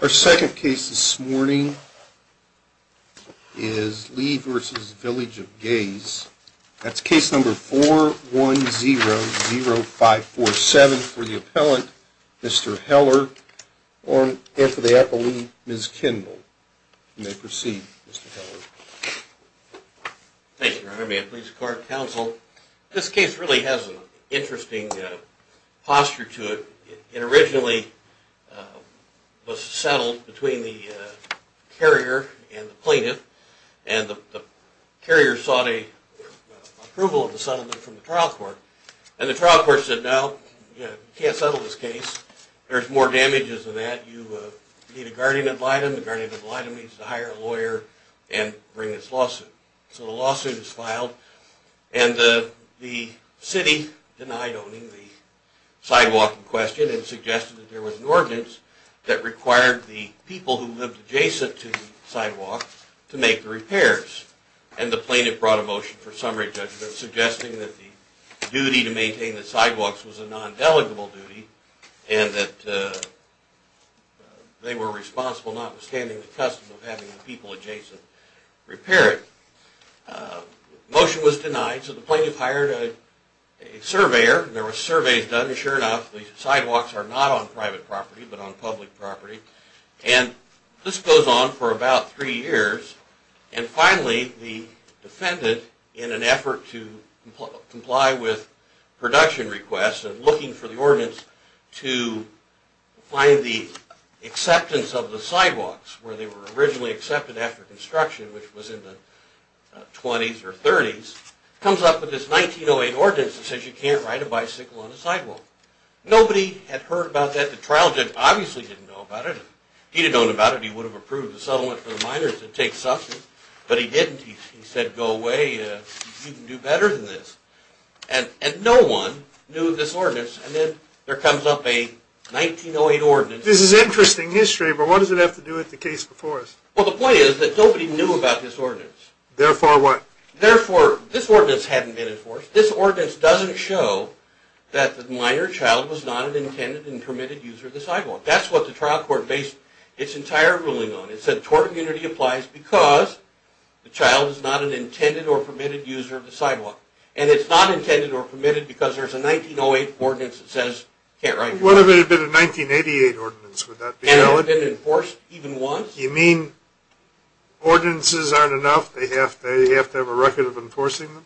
Our second case this morning is Lee v. Village of Gays. That's case number 4100547 for the appellant, Mr. Heller, and for the appellant, Ms. Kendall. You may proceed, Mr. Heller. Thank you, Your Honor. May it please the court and counsel, this case really has an interesting posture to it. It originally was settled between the carrier and the plaintiff, and the carrier sought approval of the settlement from the trial court. And the trial court said, no, you can't settle this case. There's more damages than that. You need a guardian ad litem. The guardian ad litem means to hire a lawyer and bring this lawsuit. So the lawsuit is filed, and the city denied owning the sidewalk in question and suggested that there was an ordinance that required the people who lived adjacent to the sidewalk to make the repairs. And the plaintiff brought a motion for summary judgment suggesting that the duty to maintain the sidewalks was a non-delegable duty and that they were responsible notwithstanding the custom of having the people adjacent repair it. Motion was denied, so the plaintiff hired a surveyor. There were surveys done, and sure enough, the sidewalks are not on private property but on public property. And this goes on for about three years. And finally, the defendant, in an effort to comply with production requests and looking for the ordinance to find the acceptance of the sidewalks where they were originally accepted after construction, which was in the 20s or 30s, comes up with this 1908 ordinance that says you can't ride a bicycle on a sidewalk. Nobody had heard about that. The trial judge obviously didn't know about it. If he had known about it, he would have approved the settlement for the minors that take substance. But he didn't. He said, go away. You can do better than this. And no one knew of this ordinance. And then there comes up a 1908 ordinance. This is interesting history, but what does it have to do with the case before us? Well, the point is that nobody knew about this ordinance. Therefore what? Therefore, this ordinance hadn't been enforced. This ordinance doesn't show that the minor child was not an intended and permitted user of the sidewalk. That's what the trial court based its entire ruling on. It said tort immunity applies because the child is not an intended or permitted user of the sidewalk. And it's not intended or permitted because there's a 1908 ordinance that says you can't ride a bicycle on a sidewalk. What if it had been a 1988 ordinance? And it had been enforced even once? You mean ordinances aren't enough? They have to have a record of enforcing them?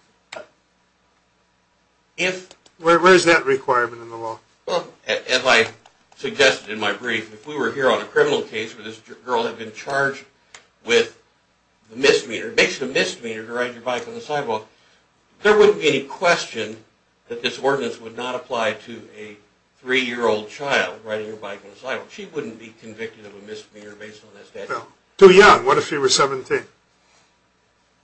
Where is that requirement in the law? Well, as I suggested in my brief, if we were here on a criminal case where this girl had been charged with a misdemeanor, basically a misdemeanor to ride your bike on the sidewalk, there wouldn't be any question that this ordinance would not apply to a three-year-old child riding her bike on the sidewalk. She wouldn't be convicted of a misdemeanor based on that statute. Too young. What if she was 17?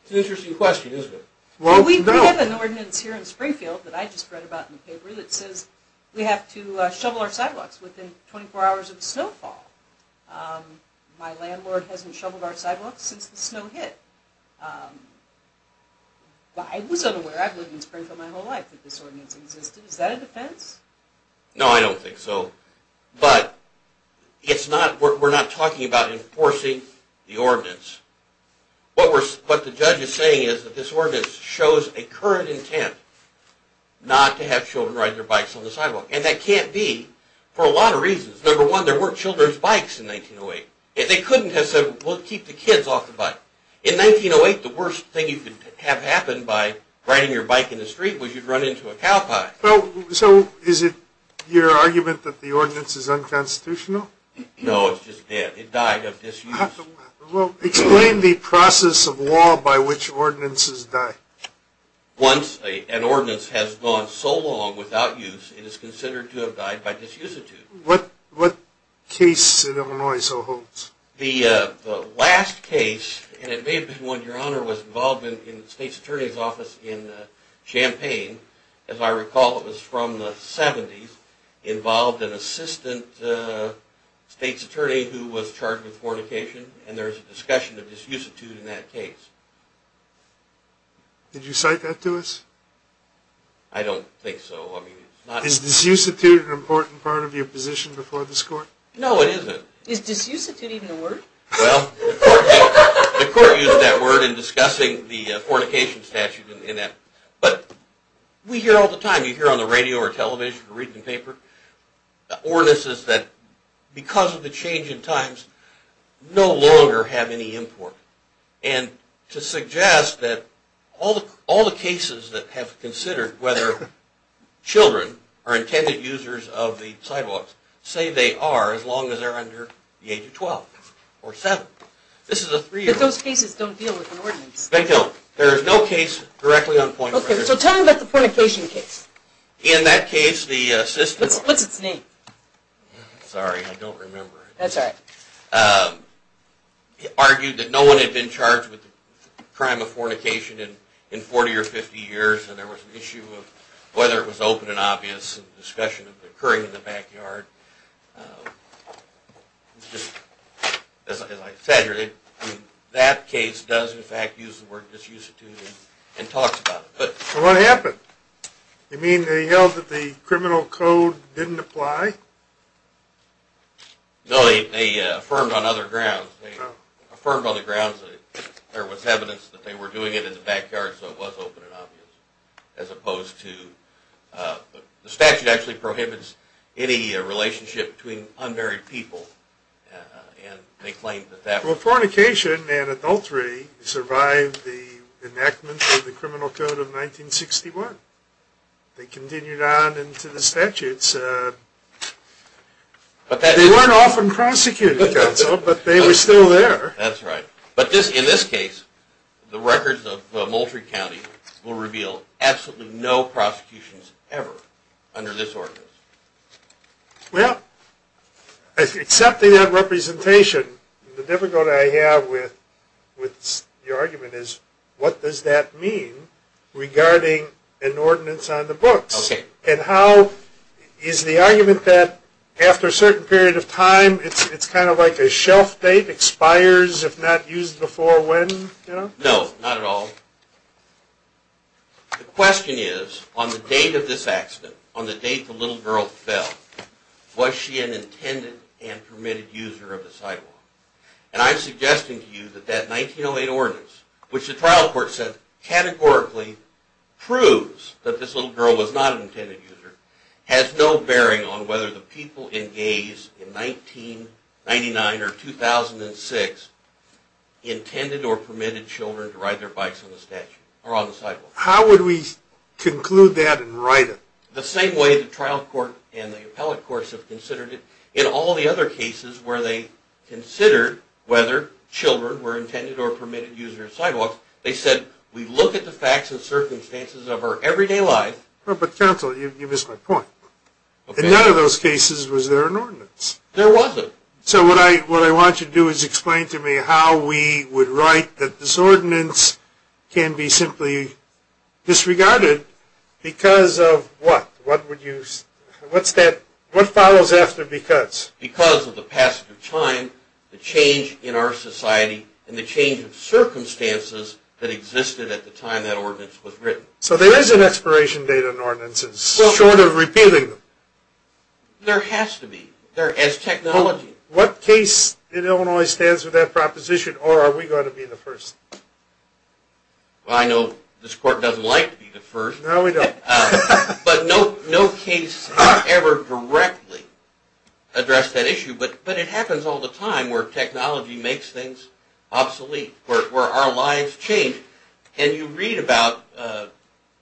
It's an interesting question, isn't it? Well, we have an ordinance here in Springfield that I just read about in the paper that says we have to shovel our sidewalks within 24 hours of snowfall. My landlord hasn't shoveled our sidewalks since the snow hit. I was unaware. I've lived in Springfield my whole life that this ordinance existed. Is that a defense? No, I don't think so. But we're not talking about enforcing the ordinance. What the judge is saying is that this ordinance shows a current intent not to have children ride their bikes on the sidewalk. And that can't be for a lot of reasons. Number one, there weren't children's bikes in 1908. They couldn't have said, well, keep the kids off the bike. In 1908, the worst thing you could have happen by riding your bike in the street was you'd run into a cow pie. So is it your argument that the ordinance is unconstitutional? No, it's just dead. It died of disuse. Explain the process of law by which ordinances die. Once an ordinance has gone so long without use, it is considered to have died by disuse. What case in Illinois so holds? The last case, and it may have been when Your Honor was involved in the state's attorney's office in Champaign, as I recall it was from the 70s, involved an assistant state's attorney who was charged with fornication. And there's a discussion of disuse in that case. Did you cite that to us? I don't think so. Is disuse an important part of your position before this court? No, it isn't. Is disuse even a word? Well, the court used that word in discussing the fornication statute. But we hear all the time, you hear on the radio or television or reading the paper, ordinances that because of the change in times no longer have any import. And to suggest that all the cases that have considered whether children are intended users of the sidewalks say they are as long as they are under the age of 12 or 7. But those cases don't deal with an ordinance. They don't. There is no case directly on point of reference. Okay, so tell me about the fornication case. In that case, the assistant... What's its name? Sorry, I don't remember. That's all right. ...argued that no one had been charged with the crime of fornication in 40 or 50 years. And there was an issue of whether it was open and obvious, a discussion of it occurring in the backyard. As I said, that case does in fact use the word disuse and talks about it. So what happened? You mean they yelled that the criminal code didn't apply? No, they affirmed on other grounds. They affirmed on the grounds that there was evidence that they were doing it in the backyard, so it was open and obvious. As opposed to... The statute actually prohibits any relationship between unmarried people. And they claimed that that... Well, fornication and adultery survived the enactment of the criminal code of 1961. They continued on into the statutes. They weren't often prosecuted, but they were still there. That's right. But in this case, the records of Moultrie County will reveal absolutely no prosecutions ever under this ordinance. Well, accepting that representation, the difficulty I have with your argument is, what does that mean regarding an ordinance on the books? And how... Is the argument that after a certain period of time, it's kind of like a shelf date, expires if not used before when? No, not at all. The question is, on the date of this accident, on the date the little girl fell, was she an intended and permitted user of the sidewalk? And I'm suggesting to you that that 1908 ordinance, which the trial court said categorically proves that this little girl was not an intended user, has no bearing on whether the people in Gaze in 1999 or 2006 intended or permitted children to ride their bikes on the sidewalk. How would we conclude that in writing? The same way the trial court and the appellate courts have considered it, in all the other cases where they considered whether children were intended or permitted users of sidewalks, they said, we look at the facts and circumstances of our everyday life... But counsel, you missed my point. In none of those cases was there an ordinance. There wasn't. So what I want you to do is explain to me how we would write that this ordinance can be simply disregarded because of what? What follows after because? Because of the passage of time, the change in our society, and the change of circumstances that existed at the time that ordinance was written. So there is an expiration date on ordinances, short of repealing them. There has to be, as technology. What case in Illinois stands with that proposition, or are we going to be the first? Well, I know this court doesn't like to be the first. No, we don't. But no case has ever directly addressed that issue. But it happens all the time where technology makes things obsolete, where our lives change. And you read about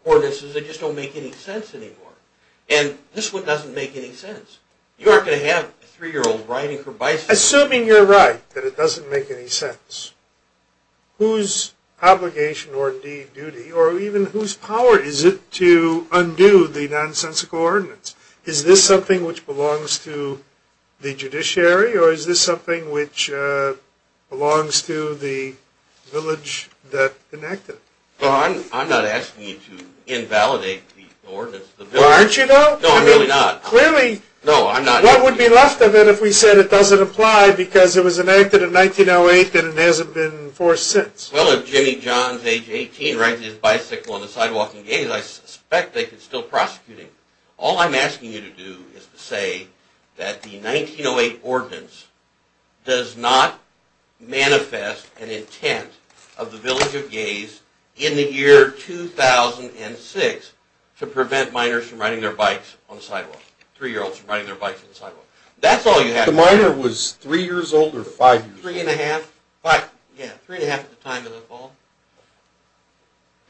ordinances that just don't make any sense anymore. And this one doesn't make any sense. You aren't going to have a three-year-old riding her bicycle... Whose obligation or duty or even whose power is it to undo the nonsensical ordinance? Is this something which belongs to the judiciary, or is this something which belongs to the village that enacted it? I'm not asking you to invalidate the ordinance of the village. Aren't you, though? No, I'm really not. Clearly, what would be left of it if we said it doesn't apply because it was enacted in 1908 and it hasn't been enforced since? Well, if Jimmy Johns, age 18, rides his bicycle on the sidewalk in Gaze, I suspect they could still prosecute him. All I'm asking you to do is to say that the 1908 ordinance does not manifest an intent of the village of Gaze in the year 2006 to prevent minors from riding their bikes on the sidewalk, three-year-olds from riding their bikes on the sidewalk. That's all you have to say. The minor was three years old or five years old? Three and a half. Yeah, three and a half at the time of the fall.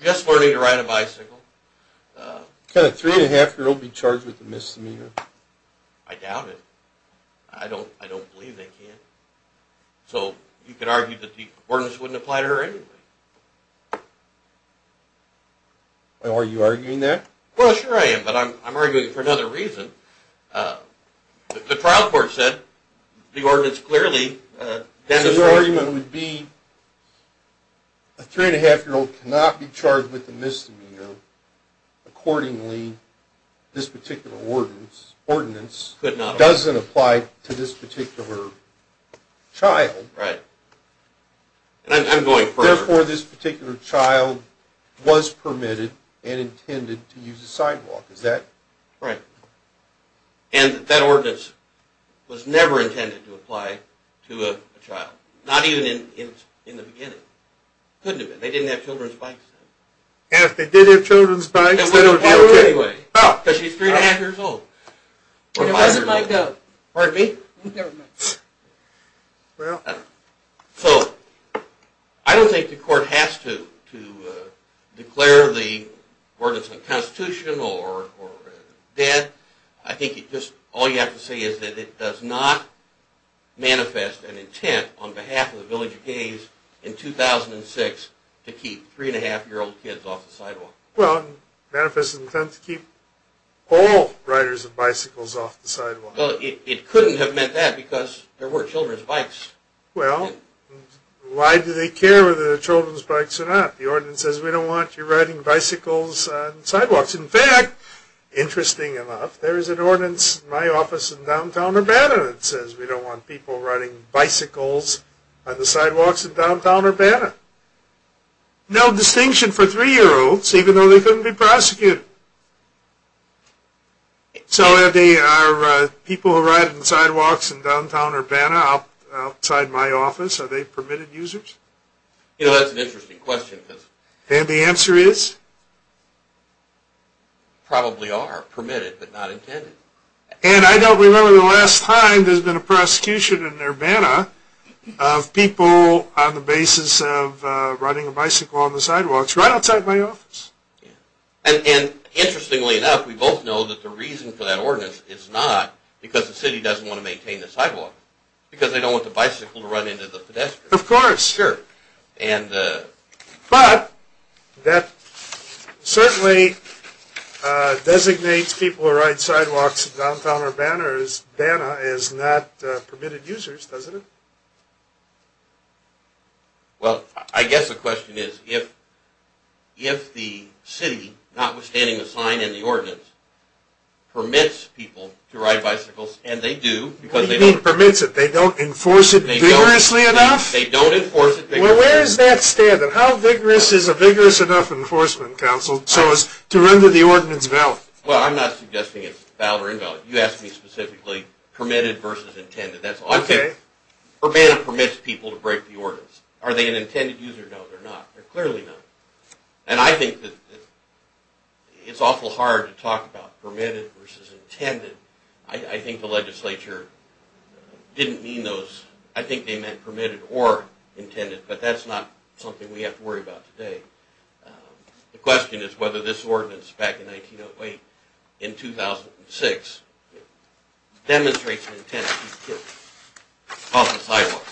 Just learning to ride a bicycle. Could a three-and-a-half-year-old be charged with a misdemeanor? I doubt it. I don't believe they can. So you could argue that the ordinance wouldn't apply to her anyway. Are you arguing that? Well, sure I am, but I'm arguing it for another reason. The trial court said the ordinance clearly does not apply. So your argument would be a three-and-a-half-year-old cannot be charged with a misdemeanor accordingly this particular ordinance doesn't apply to this particular child. Right. And I'm going further. Therefore, this particular child was permitted and intended to use the sidewalk. Right. And that ordinance was never intended to apply to a child. Not even in the beginning. It couldn't have been. They didn't have children's bikes then. And if they did have children's bikes, then it would be okay. Because she's three-and-a-half-years-old. It wasn't like that. Pardon me? Never mind. Well. So I don't think the court has to declare the ordinance unconstitutional or dead. I think all you have to say is that it does not manifest an intent on behalf of the Village of Gays in 2006 to keep three-and-a-half-year-old kids off the sidewalk. Well, it manifests an intent to keep all riders of bicycles off the sidewalk. Well, it couldn't have meant that because there were children's bikes. Well, why do they care whether they're children's bikes or not? The ordinance says we don't want you riding bicycles on sidewalks. In fact, interesting enough, there is an ordinance in my office in downtown Urbana that says we don't want people riding bicycles on the sidewalks in downtown Urbana. No distinction for three-year-olds, even though they couldn't be prosecuted. So, Andy, are people who ride on the sidewalks in downtown Urbana outside my office, are they permitted users? You know, that's an interesting question. And the answer is? Probably are permitted but not intended. And I don't remember the last time there's been a prosecution in Urbana of people on the basis of riding a bicycle on the sidewalks right outside my office. And interestingly enough, we both know that the reason for that ordinance is not because the city doesn't want to maintain the sidewalk. Because they don't want the bicycle to run into the pedestrian. Of course. Sure. But that certainly designates people who ride sidewalks in downtown Urbana as not permitted users, doesn't it? Well, I guess the question is, if the city, notwithstanding the sign and the ordinance, permits people to ride bicycles, and they do. What do you mean permits it? They don't enforce it vigorously enough? They don't enforce it vigorously enough. Well, where does that stand? How vigorous is a vigorous enough enforcement council so as to render the ordinance valid? Well, I'm not suggesting it's valid or invalid. You asked me specifically permitted versus intended. Urbana permits people to break the ordinance. Are they an intended user? No, they're not. They're clearly not. And I think that it's awful hard to talk about permitted versus intended. I think the legislature didn't mean those. I think they meant permitted or intended. But that's not something we have to worry about today. The question is whether this ordinance back in 1908, in 2006, demonstrates the intent to keep kids off the sidewalk.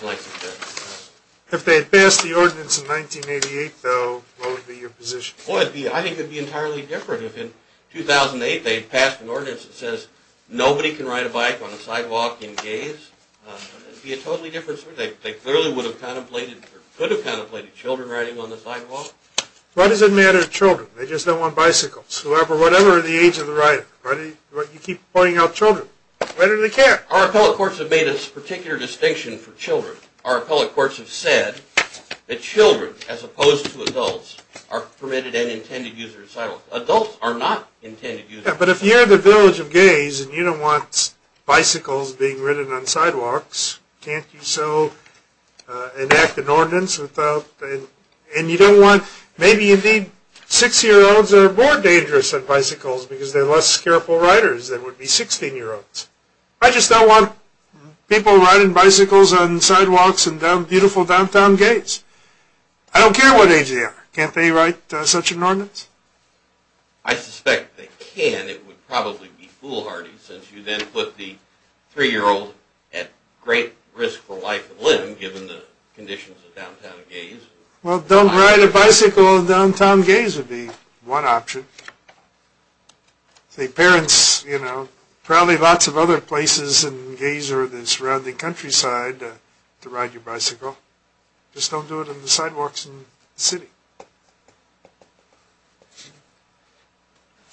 If they had passed the ordinance in 1988, though, what would be your position? I think it would be entirely different. If in 2008 they had passed an ordinance that says nobody can ride a bike on the sidewalk and gaze, it would be a totally different story. They clearly would have contemplated or could have contemplated children riding on the sidewalk. Why does it matter to children? They just don't want bicycles. Whatever the age of the rider, you keep pointing out children. Why do they care? Our appellate courts have made a particular distinction for children. Our appellate courts have said that children, as opposed to adults, are permitted and intended users. Adults are not intended users. But if you're in the village of gaze and you don't want bicycles being ridden on sidewalks, can't you so enact an ordinance without, and you don't want, maybe indeed six-year-olds are more dangerous on bicycles because they're less careful riders than would be 16-year-olds. I just don't want people riding bicycles on sidewalks and down beautiful downtown gates. I don't care what age they are. Can't they write such an ordinance? I suspect they can. And it would probably be foolhardy since you then put the three-year-old at great risk for life and limb given the conditions of downtown gaze. Well, don't ride a bicycle in downtown gaze would be one option. See, parents, you know, probably lots of other places in gaze or the surrounding countryside to ride your bicycle. Just don't do it on the sidewalks in the city.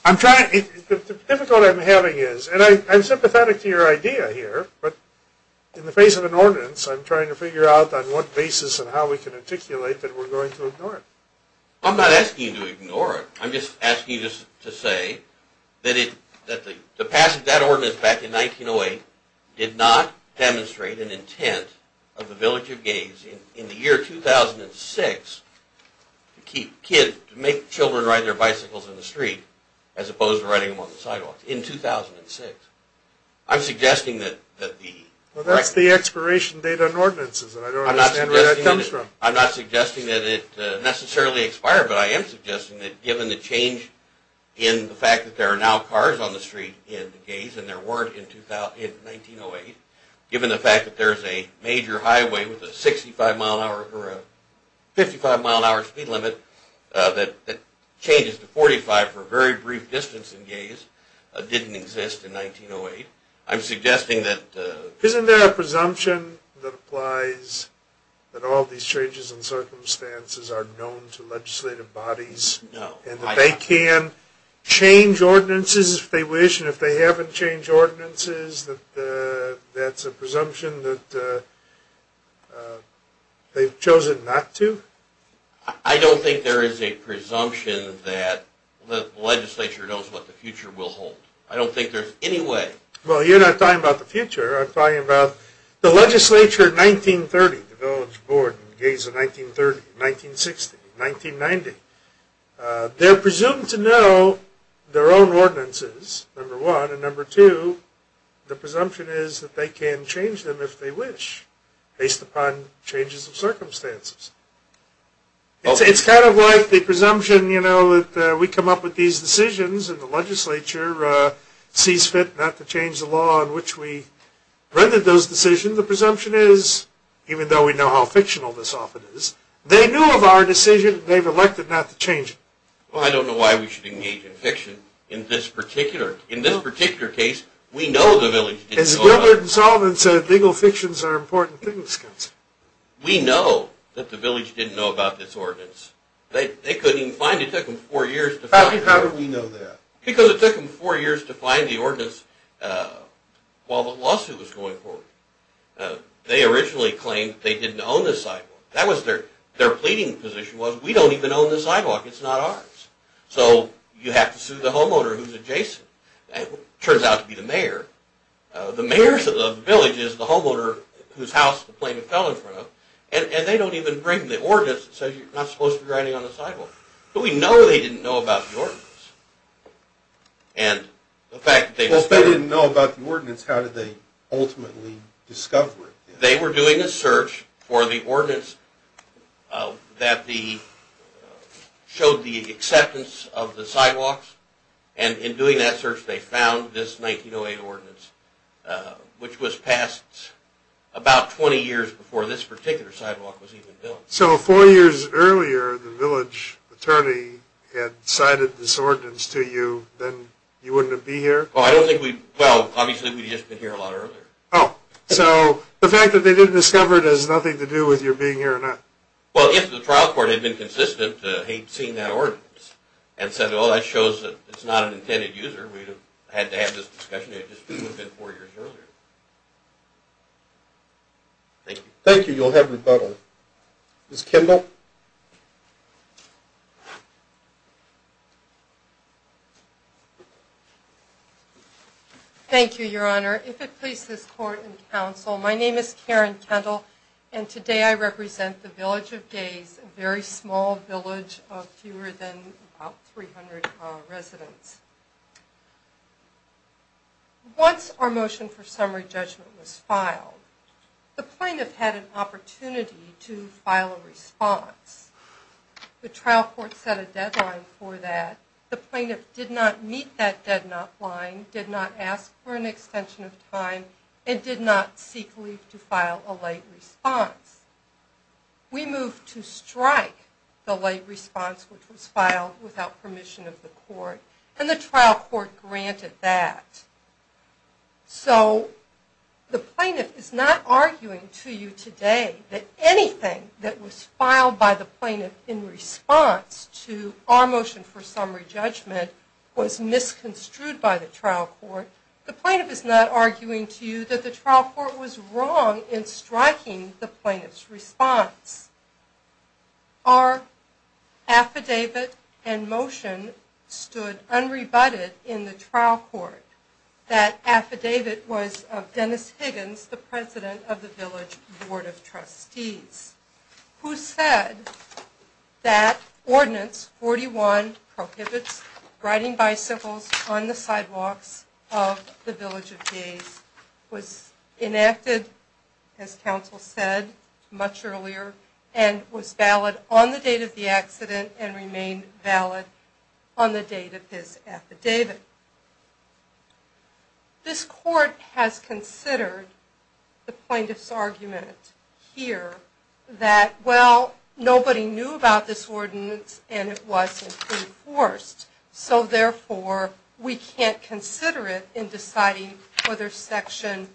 The difficulty I'm having is, and I'm sympathetic to your idea here, but in the face of an ordinance I'm trying to figure out on what basis and how we can articulate that we're going to ignore it. I'm not asking you to ignore it. I'm just asking you to say that that ordinance back in 1908 did not demonstrate an intent of the village of gaze in the year 2006 to make children ride their bicycles in the street as opposed to riding them on the sidewalks in 2006. I'm suggesting that the... Well, that's the expiration date on ordinances, and I don't understand where that comes from. I'm not suggesting that it necessarily expired, but I am suggesting that given the change in the fact that there are now cars on the street in gaze and there weren't in 1908, given the fact that there's a major highway with a 55-mile-an-hour speed limit that changes to 45 for a very brief distance in gaze, didn't exist in 1908. I'm suggesting that... Isn't there a presumption that applies that all these changes in circumstances are known to legislative bodies? No. And that they can change ordinances if they wish, and if they haven't changed ordinances, that that's a presumption that they've chosen not to? I don't think there is a presumption that the legislature knows what the future will hold. I don't think there's any way. I'm talking about the legislature in 1930, the village board in gaze in 1930, 1960, 1990. They're presumed to know their own ordinances, number one, and number two, the presumption is that they can change them if they wish based upon changes in circumstances. It's kind of like the presumption, you know, that we come up with these decisions and the legislature sees fit not to change the law in which we rendered those decisions. The presumption is, even though we know how fictional this often is, they knew of our decision and they've elected not to change it. Well, I don't know why we should engage in fiction in this particular case. We know the village didn't know about it. As Gilbert and Sullivan said, legal fictions are important things. We know that the village didn't know about this ordinance. They couldn't even find it. It took them four years to find it. How do we know that? Because it took them four years to find the ordinance while the lawsuit was going forward. They originally claimed they didn't own this sidewalk. Their pleading position was, we don't even own this sidewalk. It's not ours. So you have to sue the homeowner who's adjacent. It turns out to be the mayor. The mayor of the village is the homeowner whose house the plaintiff fell in front of and they don't even bring the ordinance that says you're not supposed to be riding on the sidewalk. But we know they didn't know about the ordinance. Well, if they didn't know about the ordinance, how did they ultimately discover it? They were doing a search for the ordinance that showed the acceptance of the sidewalks and in doing that search they found this 1908 ordinance, which was passed about 20 years before this particular sidewalk was even built. So four years earlier the village attorney had cited this ordinance to you, then you wouldn't have been here? Well, obviously we would have just been here a lot earlier. So the fact that they didn't discover it has nothing to do with your being here or not? Well, if the trial court had been consistent in seeing that ordinance and said, well, that shows that it's not an intended user, we would have had to have this discussion. It would have been four years earlier. Thank you. Thank you. You'll have rebuttal. Ms. Kendall? Thank you, Your Honor. If it pleases the court and counsel, my name is Karen Kendall and today I represent the Village of Gays, a very small village of fewer than 300 residents. Once our motion for summary judgment was filed, the plaintiff had an opportunity to file a response. The trial court set a deadline for that. The plaintiff did not meet that deadline, did not ask for an extension of time, and did not seek leave to file a late response. We moved to strike the late response, which was filed without permission of the court, and the trial court granted that. So the plaintiff is not arguing to you today that anything that was filed by the plaintiff in response to our motion for summary judgment was misconstrued by the trial court. The plaintiff is not arguing to you that the trial court was wrong in striking the plaintiff's response. Our affidavit and motion stood unrebutted in the trial court. That affidavit was of Dennis Higgins, the president of the Village Board of Trustees, who said that Ordinance 41, Prohibits Riding Bicycles on the Sidewalks of the Village of Gays, was enacted, as counsel said much earlier, and was valid on the date of the accident and remained valid on the date of his affidavit. This court has considered the plaintiff's argument here, that, well, nobody knew about this ordinance and it wasn't enforced, so therefore we can't consider it in deciding whether Section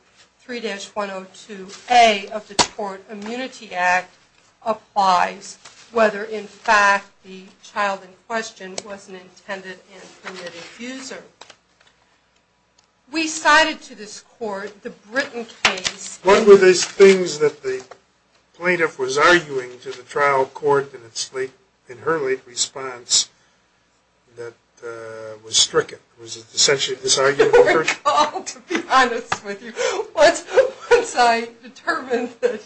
3-102A of the Court Immunity Act applies, whether, in fact, the child in question was an intended and committed abuser. We cited to this court the Britton case... What were these things that the plaintiff was arguing to the trial court in her late response that was stricken? It was essentially this argument... I don't recall, to be honest with you. Once I determined that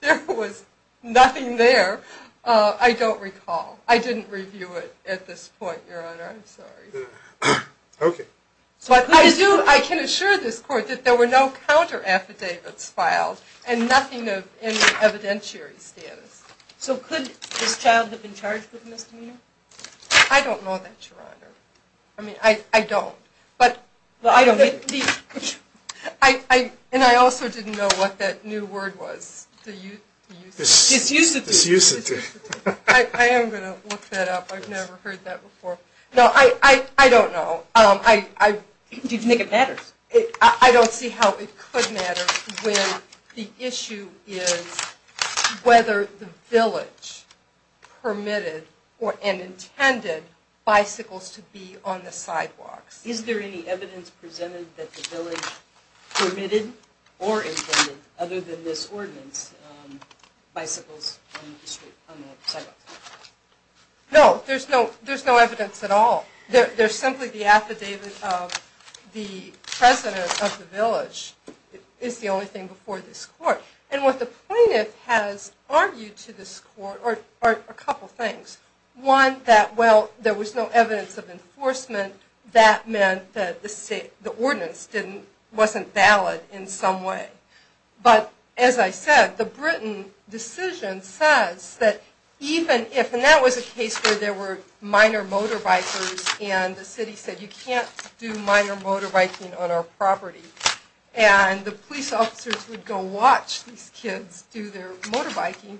there was nothing there, I don't recall. I didn't review it at this point, Your Honor, I'm sorry. But I can assure this court that there were no counter-affidavits filed and nothing in the evidentiary status. So could this child have been charged with misdemeanor? I don't know that, Your Honor. I don't. And I also didn't know what that new word was. Disusity. I am going to look that up. I've never heard that before. No, I don't know. Do you think it matters? I don't see how it could matter when the issue is whether the village permitted or intended bicycles to be on the sidewalks. Is there any evidence presented that the village permitted or intended, other than this ordinance, bicycles on the sidewalks? No, there's no evidence at all. There's simply the affidavit of the president of the village is the only thing before this court. And what the plaintiff has argued to this court are a couple things. One, that, well, there was no evidence of enforcement. That meant that the ordinance wasn't valid in some way. But, as I said, the Britain decision says that even if, and that was a case where there were minor motorbikers and the city said you can't do minor motorbiking on our property and the police officers would go watch these kids do their motorbiking.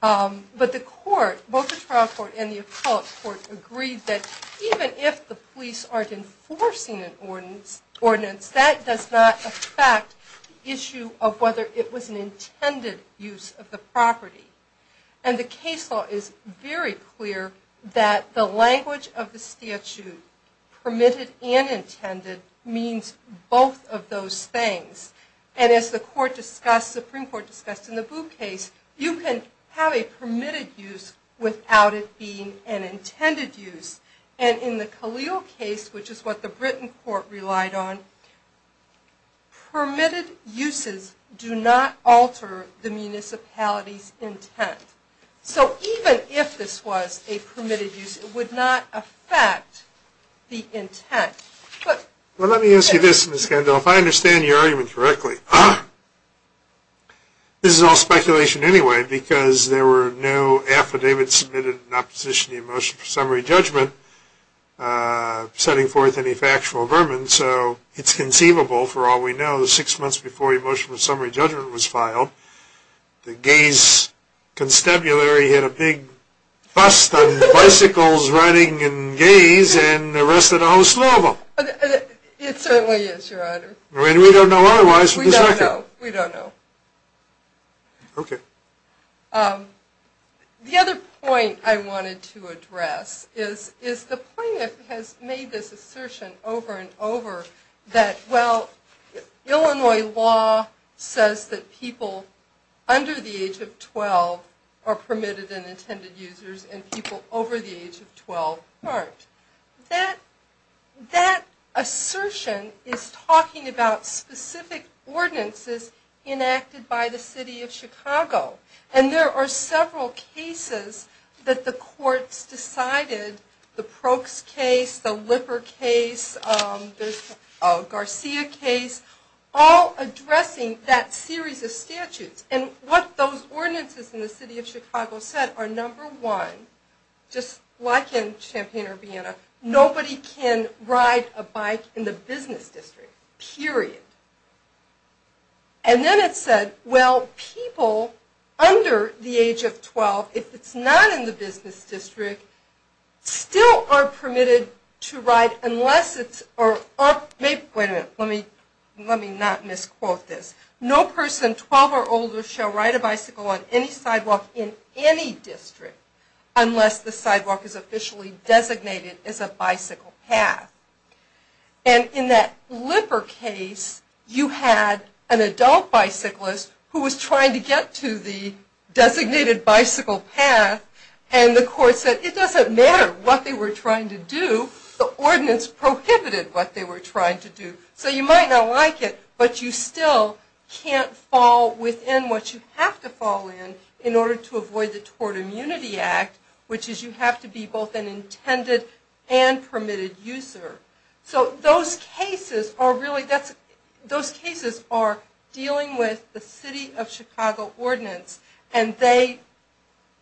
But the court, both the trial court and the appellate court, agreed that even if the police aren't enforcing an ordinance, that does not affect the issue of whether it was an intended use of the property. And the case law is very clear that the language of the statute, permitted and intended, means both of those things. And as the Supreme Court discussed in the Boo case, you can have a permitted use without it being an intended use. And in the Khalil case, which is what the Britain court relied on, permitted uses do not alter the municipality's intent. So even if this was a permitted use, it would not affect the intent. Well, let me ask you this, Ms. Kendall. If I understand your argument correctly, this is all speculation anyway, because there were no affidavits submitted in opposition to the Emotion of Summary Judgment setting forth any factual vermin. So it's conceivable, for all we know, that six months before the Emotion of Summary Judgment was filed, the gays' constabulary hit a big bust on bicycles, riding, and gays, and arrested a whole slew of them. It certainly is, Your Honor. We don't know otherwise from this record. We don't know. Okay. The other point I wanted to address is the point that has made this assertion over and over, that, well, Illinois law says that people under the age of 12 are permitted and intended users, and people over the age of 12 aren't. That assertion is talking about specific ordinances enacted by the city of Chicago. And there are several cases that the courts decided, the Prokes case, the Lipper case, the Garcia case, all addressing that series of statutes. And what those ordinances in the city of Chicago said are, number one, just like in Champaign-Urbana, nobody can ride a bike in the business district, period. And then it said, well, people under the age of 12, if it's not in the business district, still are permitted to ride unless it's, or, wait a minute, let me not misquote this. No person 12 or older shall ride a bicycle on any sidewalk in any district unless the sidewalk is officially designated as a bicycle path. And in that Lipper case, you had an adult bicyclist who was trying to get to the designated bicycle path, and the court said, it doesn't matter what they were trying to do. The ordinance prohibited what they were trying to do. So you might not like it, but you still can't fall within what you have to fall in in order to avoid the Tort Immunity Act, which is you have to be both an intended and permitted user. So those cases are really, those cases are dealing with the city of Chicago ordinance, and they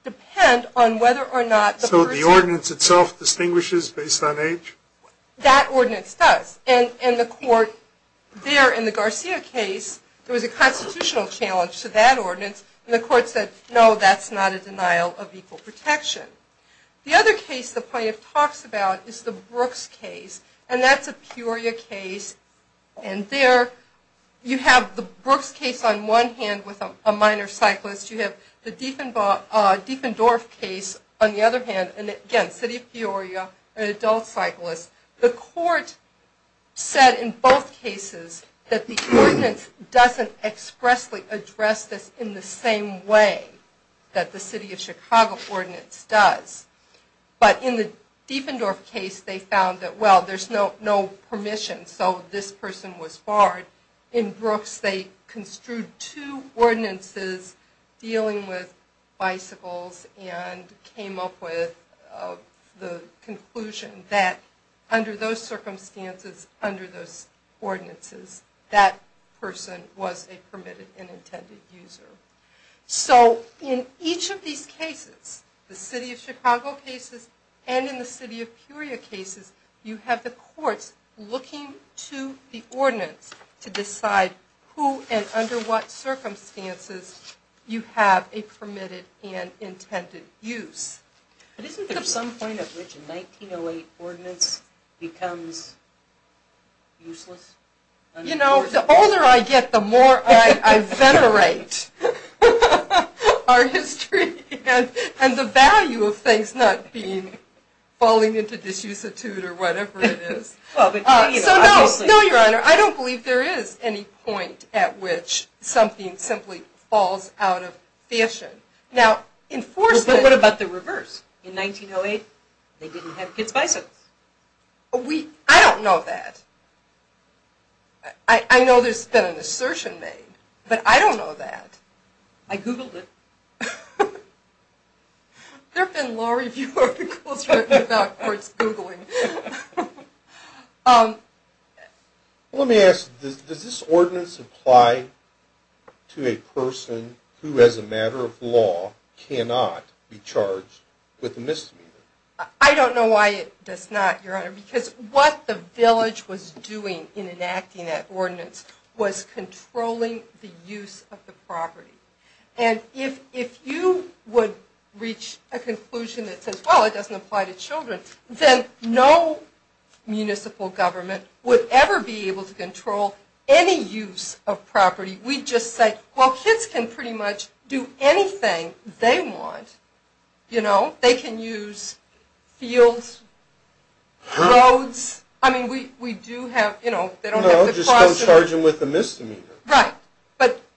depend on whether or not the person... So the ordinance itself distinguishes based on age? That ordinance does, and the court there in the Garcia case, there was a constitutional challenge to that ordinance, and the court said, no, that's not a denial of equal protection. The other case the plaintiff talks about is the Brooks case, and that's a Peoria case, and there you have the Brooks case on one hand with a minor cyclist, you have the Dieffendorf case on the other hand, and again, city of Peoria, an adult cyclist. The court said in both cases that the ordinance doesn't expressly address this in the same way that the city of Chicago ordinance does. But in the Dieffendorf case they found that, well, there's no permission, so this person was barred. In Brooks they construed two ordinances dealing with bicycles and came up with the conclusion that under those circumstances, under those ordinances, that person was a permitted and intended user. So in each of these cases, the city of Chicago cases and in the city of Peoria cases, you have the courts looking to the ordinance to decide who and under what circumstances you have a permitted and intended use. Isn't there some point at which a 1908 ordinance becomes useless? You know, the older I get, the more I venerate our history and the value of things not falling into disuse or whatever it is. So no, I don't believe there is any point at which something simply falls out of fashion. But what about the reverse? In 1908 they didn't have kids' bicycles. I don't know that. I know there's been an assertion made, but I don't know that. I googled it. There have been law review articles written about courts googling. Let me ask, does this ordinance apply to a person who as a matter of law cannot be charged with a misdemeanor? I don't know why it does not, Your Honor, was controlling the use of the property. And if you would reach a conclusion that says, well, it doesn't apply to children, then no municipal government would ever be able to control any use of property. We just say, well, kids can pretty much do anything they want. You know, they can use fields, roads. No, just don't charge them with a misdemeanor. Right,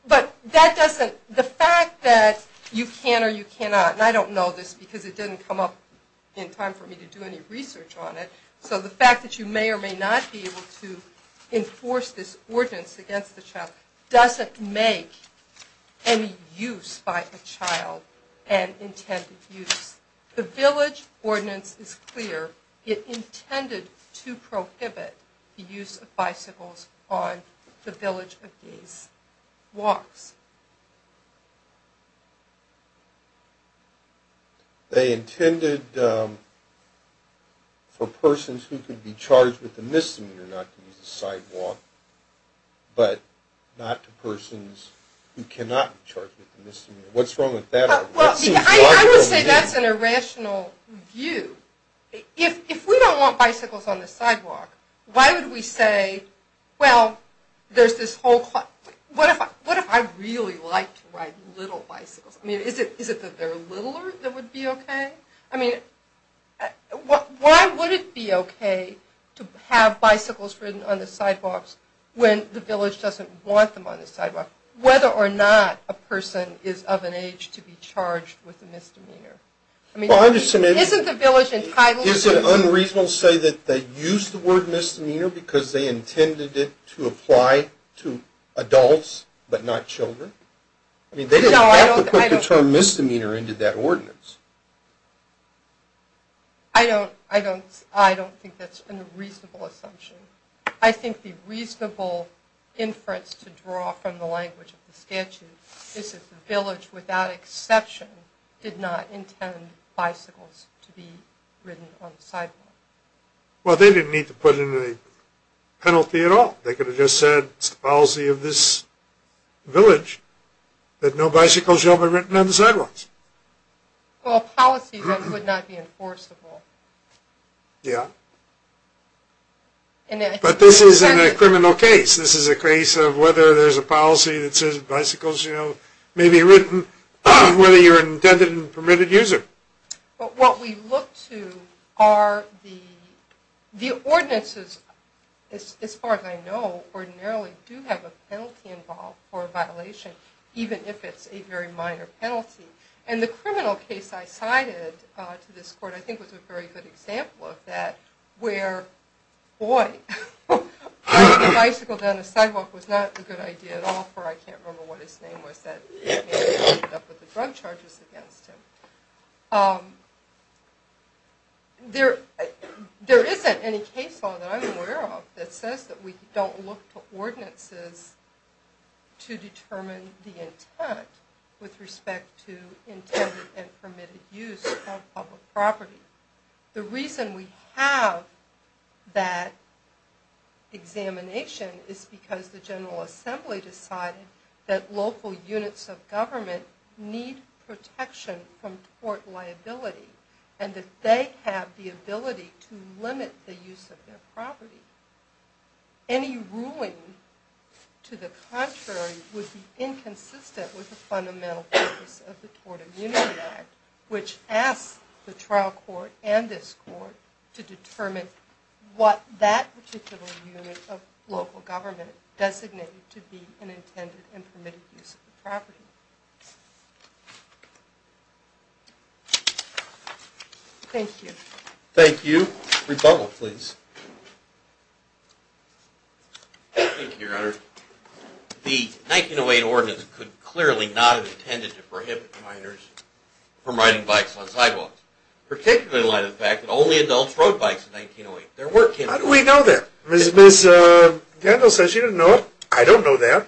but the fact that you can or you cannot, and I don't know this because it didn't come up in time for me to do any research on it, so the fact that you may or may not be able to enforce this ordinance against the child doesn't make any use by a child an intended use. The village ordinance is clear. It intended to prohibit the use of bicycles on the village of these walks. They intended for persons who could be charged with a misdemeanor not to use the sidewalk, but not to persons who cannot be charged with a misdemeanor. What's wrong with that? I would say that's an irrational view. If we don't want bicycles on the sidewalk, why would we say, well, there's this whole – what if I really like to ride little bicycles? I mean, is it that they're littler that would be okay? I mean, why would it be okay to have bicycles ridden on the sidewalks when the village doesn't want them on the sidewalk, whether or not a person is of an age to be charged with a misdemeanor? Isn't the village entitled to – Is it unreasonable to say that they used the word misdemeanor because they intended it to apply to adults but not children? I mean, they didn't have to put the term misdemeanor into that ordinance. I don't think that's a reasonable assumption. I think the reasonable inference to draw from the language of the statute is that the village, without exception, did not intend bicycles to be ridden on the sidewalk. Well, they didn't need to put in a penalty at all. They could have just said it's the policy of this village that no bicycles shall be ridden on the sidewalks. Well, a policy that would not be enforceable. Yeah. But this isn't a criminal case. This is a case of whether there's a policy that says bicycles may be ridden, whether you're an intended and permitted user. But what we look to are the ordinances, as far as I know, ordinarily do have a penalty involved for a violation, even if it's a very minor penalty. And the criminal case I cited to this court, I think, was a very good example of that, where, boy, a bicycle down the sidewalk was not a good idea at all, for I can't remember what his name was, that he ended up with the drug charges against him. There isn't any case law that I'm aware of that says that we don't look to ordinances to determine the intent with respect to intended and permitted use on public property. The reason we have that examination is because the General Assembly decided that local units of government need protection from tort liability and that they have the ability to limit the use of their property. Any ruling to the contrary would be inconsistent with the fundamental purpose of the Tort Immunity Act, which asks the trial court and this court to determine what that particular unit of local government designated to be an intended and permitted use of the property. Thank you. Thank you. Rebuttal, please. Thank you, Your Honor. The 1908 Ordinance could clearly not have intended to prohibit minors from riding bikes on sidewalks, particularly in light of the fact that only adults rode bikes in 1908. How do we know that? Ms. Gandel says she didn't know it. I don't know that.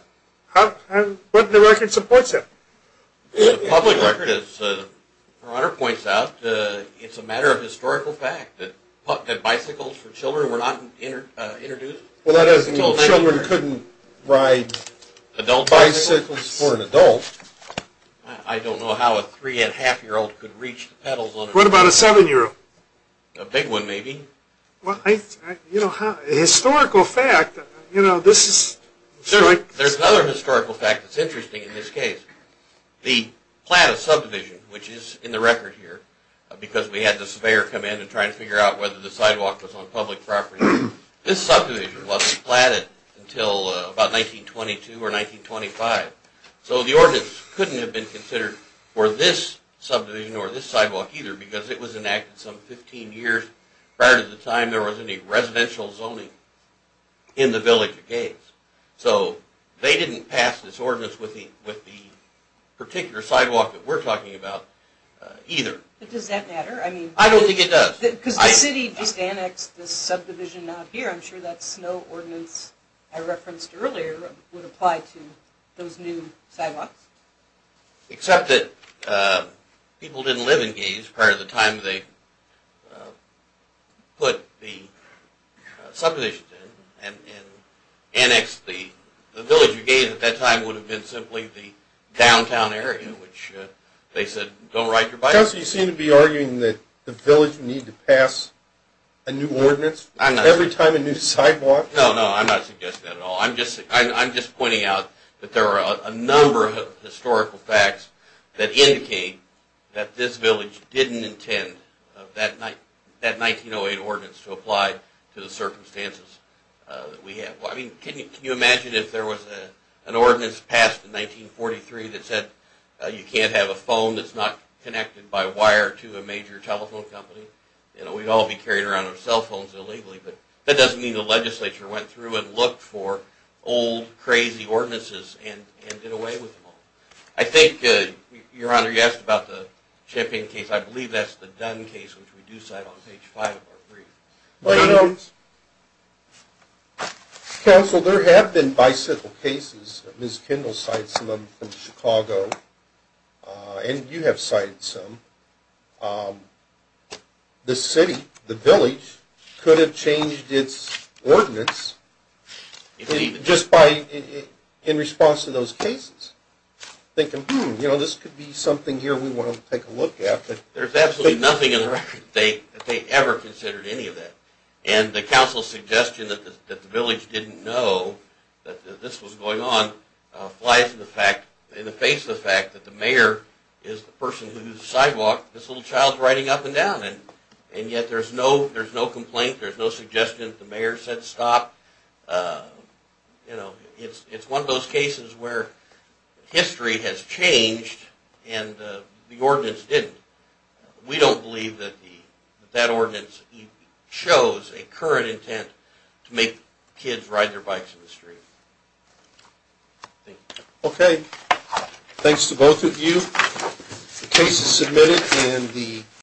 What in the record supports that? The public record, as Your Honor points out, it's a matter of historical fact that bicycles for children were not introduced until 1908. Well, that is, children couldn't ride bicycles for an adult. I don't know how a three-and-a-half-year-old could reach the pedals on a bicycle. What about a seven-year-old? A big one, maybe. Well, you know, historical fact, you know, this is… There's another historical fact that's interesting in this case. The plan of subdivision, which is in the record here, because we had the surveyor come in and try to figure out whether the sidewalk was on public property, this subdivision wasn't platted until about 1922 or 1925. So the Ordinance couldn't have been considered for this subdivision or this sidewalk either because it was enacted some 15 years prior to the time there was any residential zoning in the village of Gates. So they didn't pass this Ordinance with the particular sidewalk that we're talking about either. But does that matter? I don't think it does. Because the city just annexed this subdivision out here. I'm sure that snow ordinance I referenced earlier would apply to those new sidewalks. Except that people didn't live in Gates prior to the time they put the subdivision in and annexed the village of Gates at that time would have been simply the downtown area, which they said, don't ride your bicycle. So you seem to be arguing that the village needed to pass a new ordinance every time a new sidewalk… No, no, I'm not suggesting that at all. I'm just pointing out that there are a number of historical facts that indicate that this village didn't intend that 1908 Ordinance to apply to the circumstances that we have. Can you imagine if there was an ordinance passed in 1943 that said you can't have a phone that's not connected by wire to a major telephone company? We'd all be carrying around our cell phones illegally. But that doesn't mean the legislature went through and looked for old, crazy ordinances and did away with them all. I think, Your Honor, you asked about the Champion case. I believe that's the Dunn case, which we do cite on page 5 of our brief. Counsel, there have been bicycle cases. Ms. Kendall cited some of them from Chicago. And you have cited some. And I think the city, the village, could have changed its ordinance just in response to those cases. Thinking, hmm, this could be something here we want to take a look at. There's absolutely nothing in the record that they ever considered any of that. And the counsel's suggestion that the village didn't know that this was going on applies in the face of the fact that the mayor is the person who's sidewalked. This little child's riding up and down. And yet there's no complaint. There's no suggestion that the mayor said stop. It's one of those cases where history has changed and the ordinance didn't. We don't believe that that ordinance shows a current intent to make kids ride their bikes in the street. Thank you. Okay. Thanks to both of you. The case is submitted.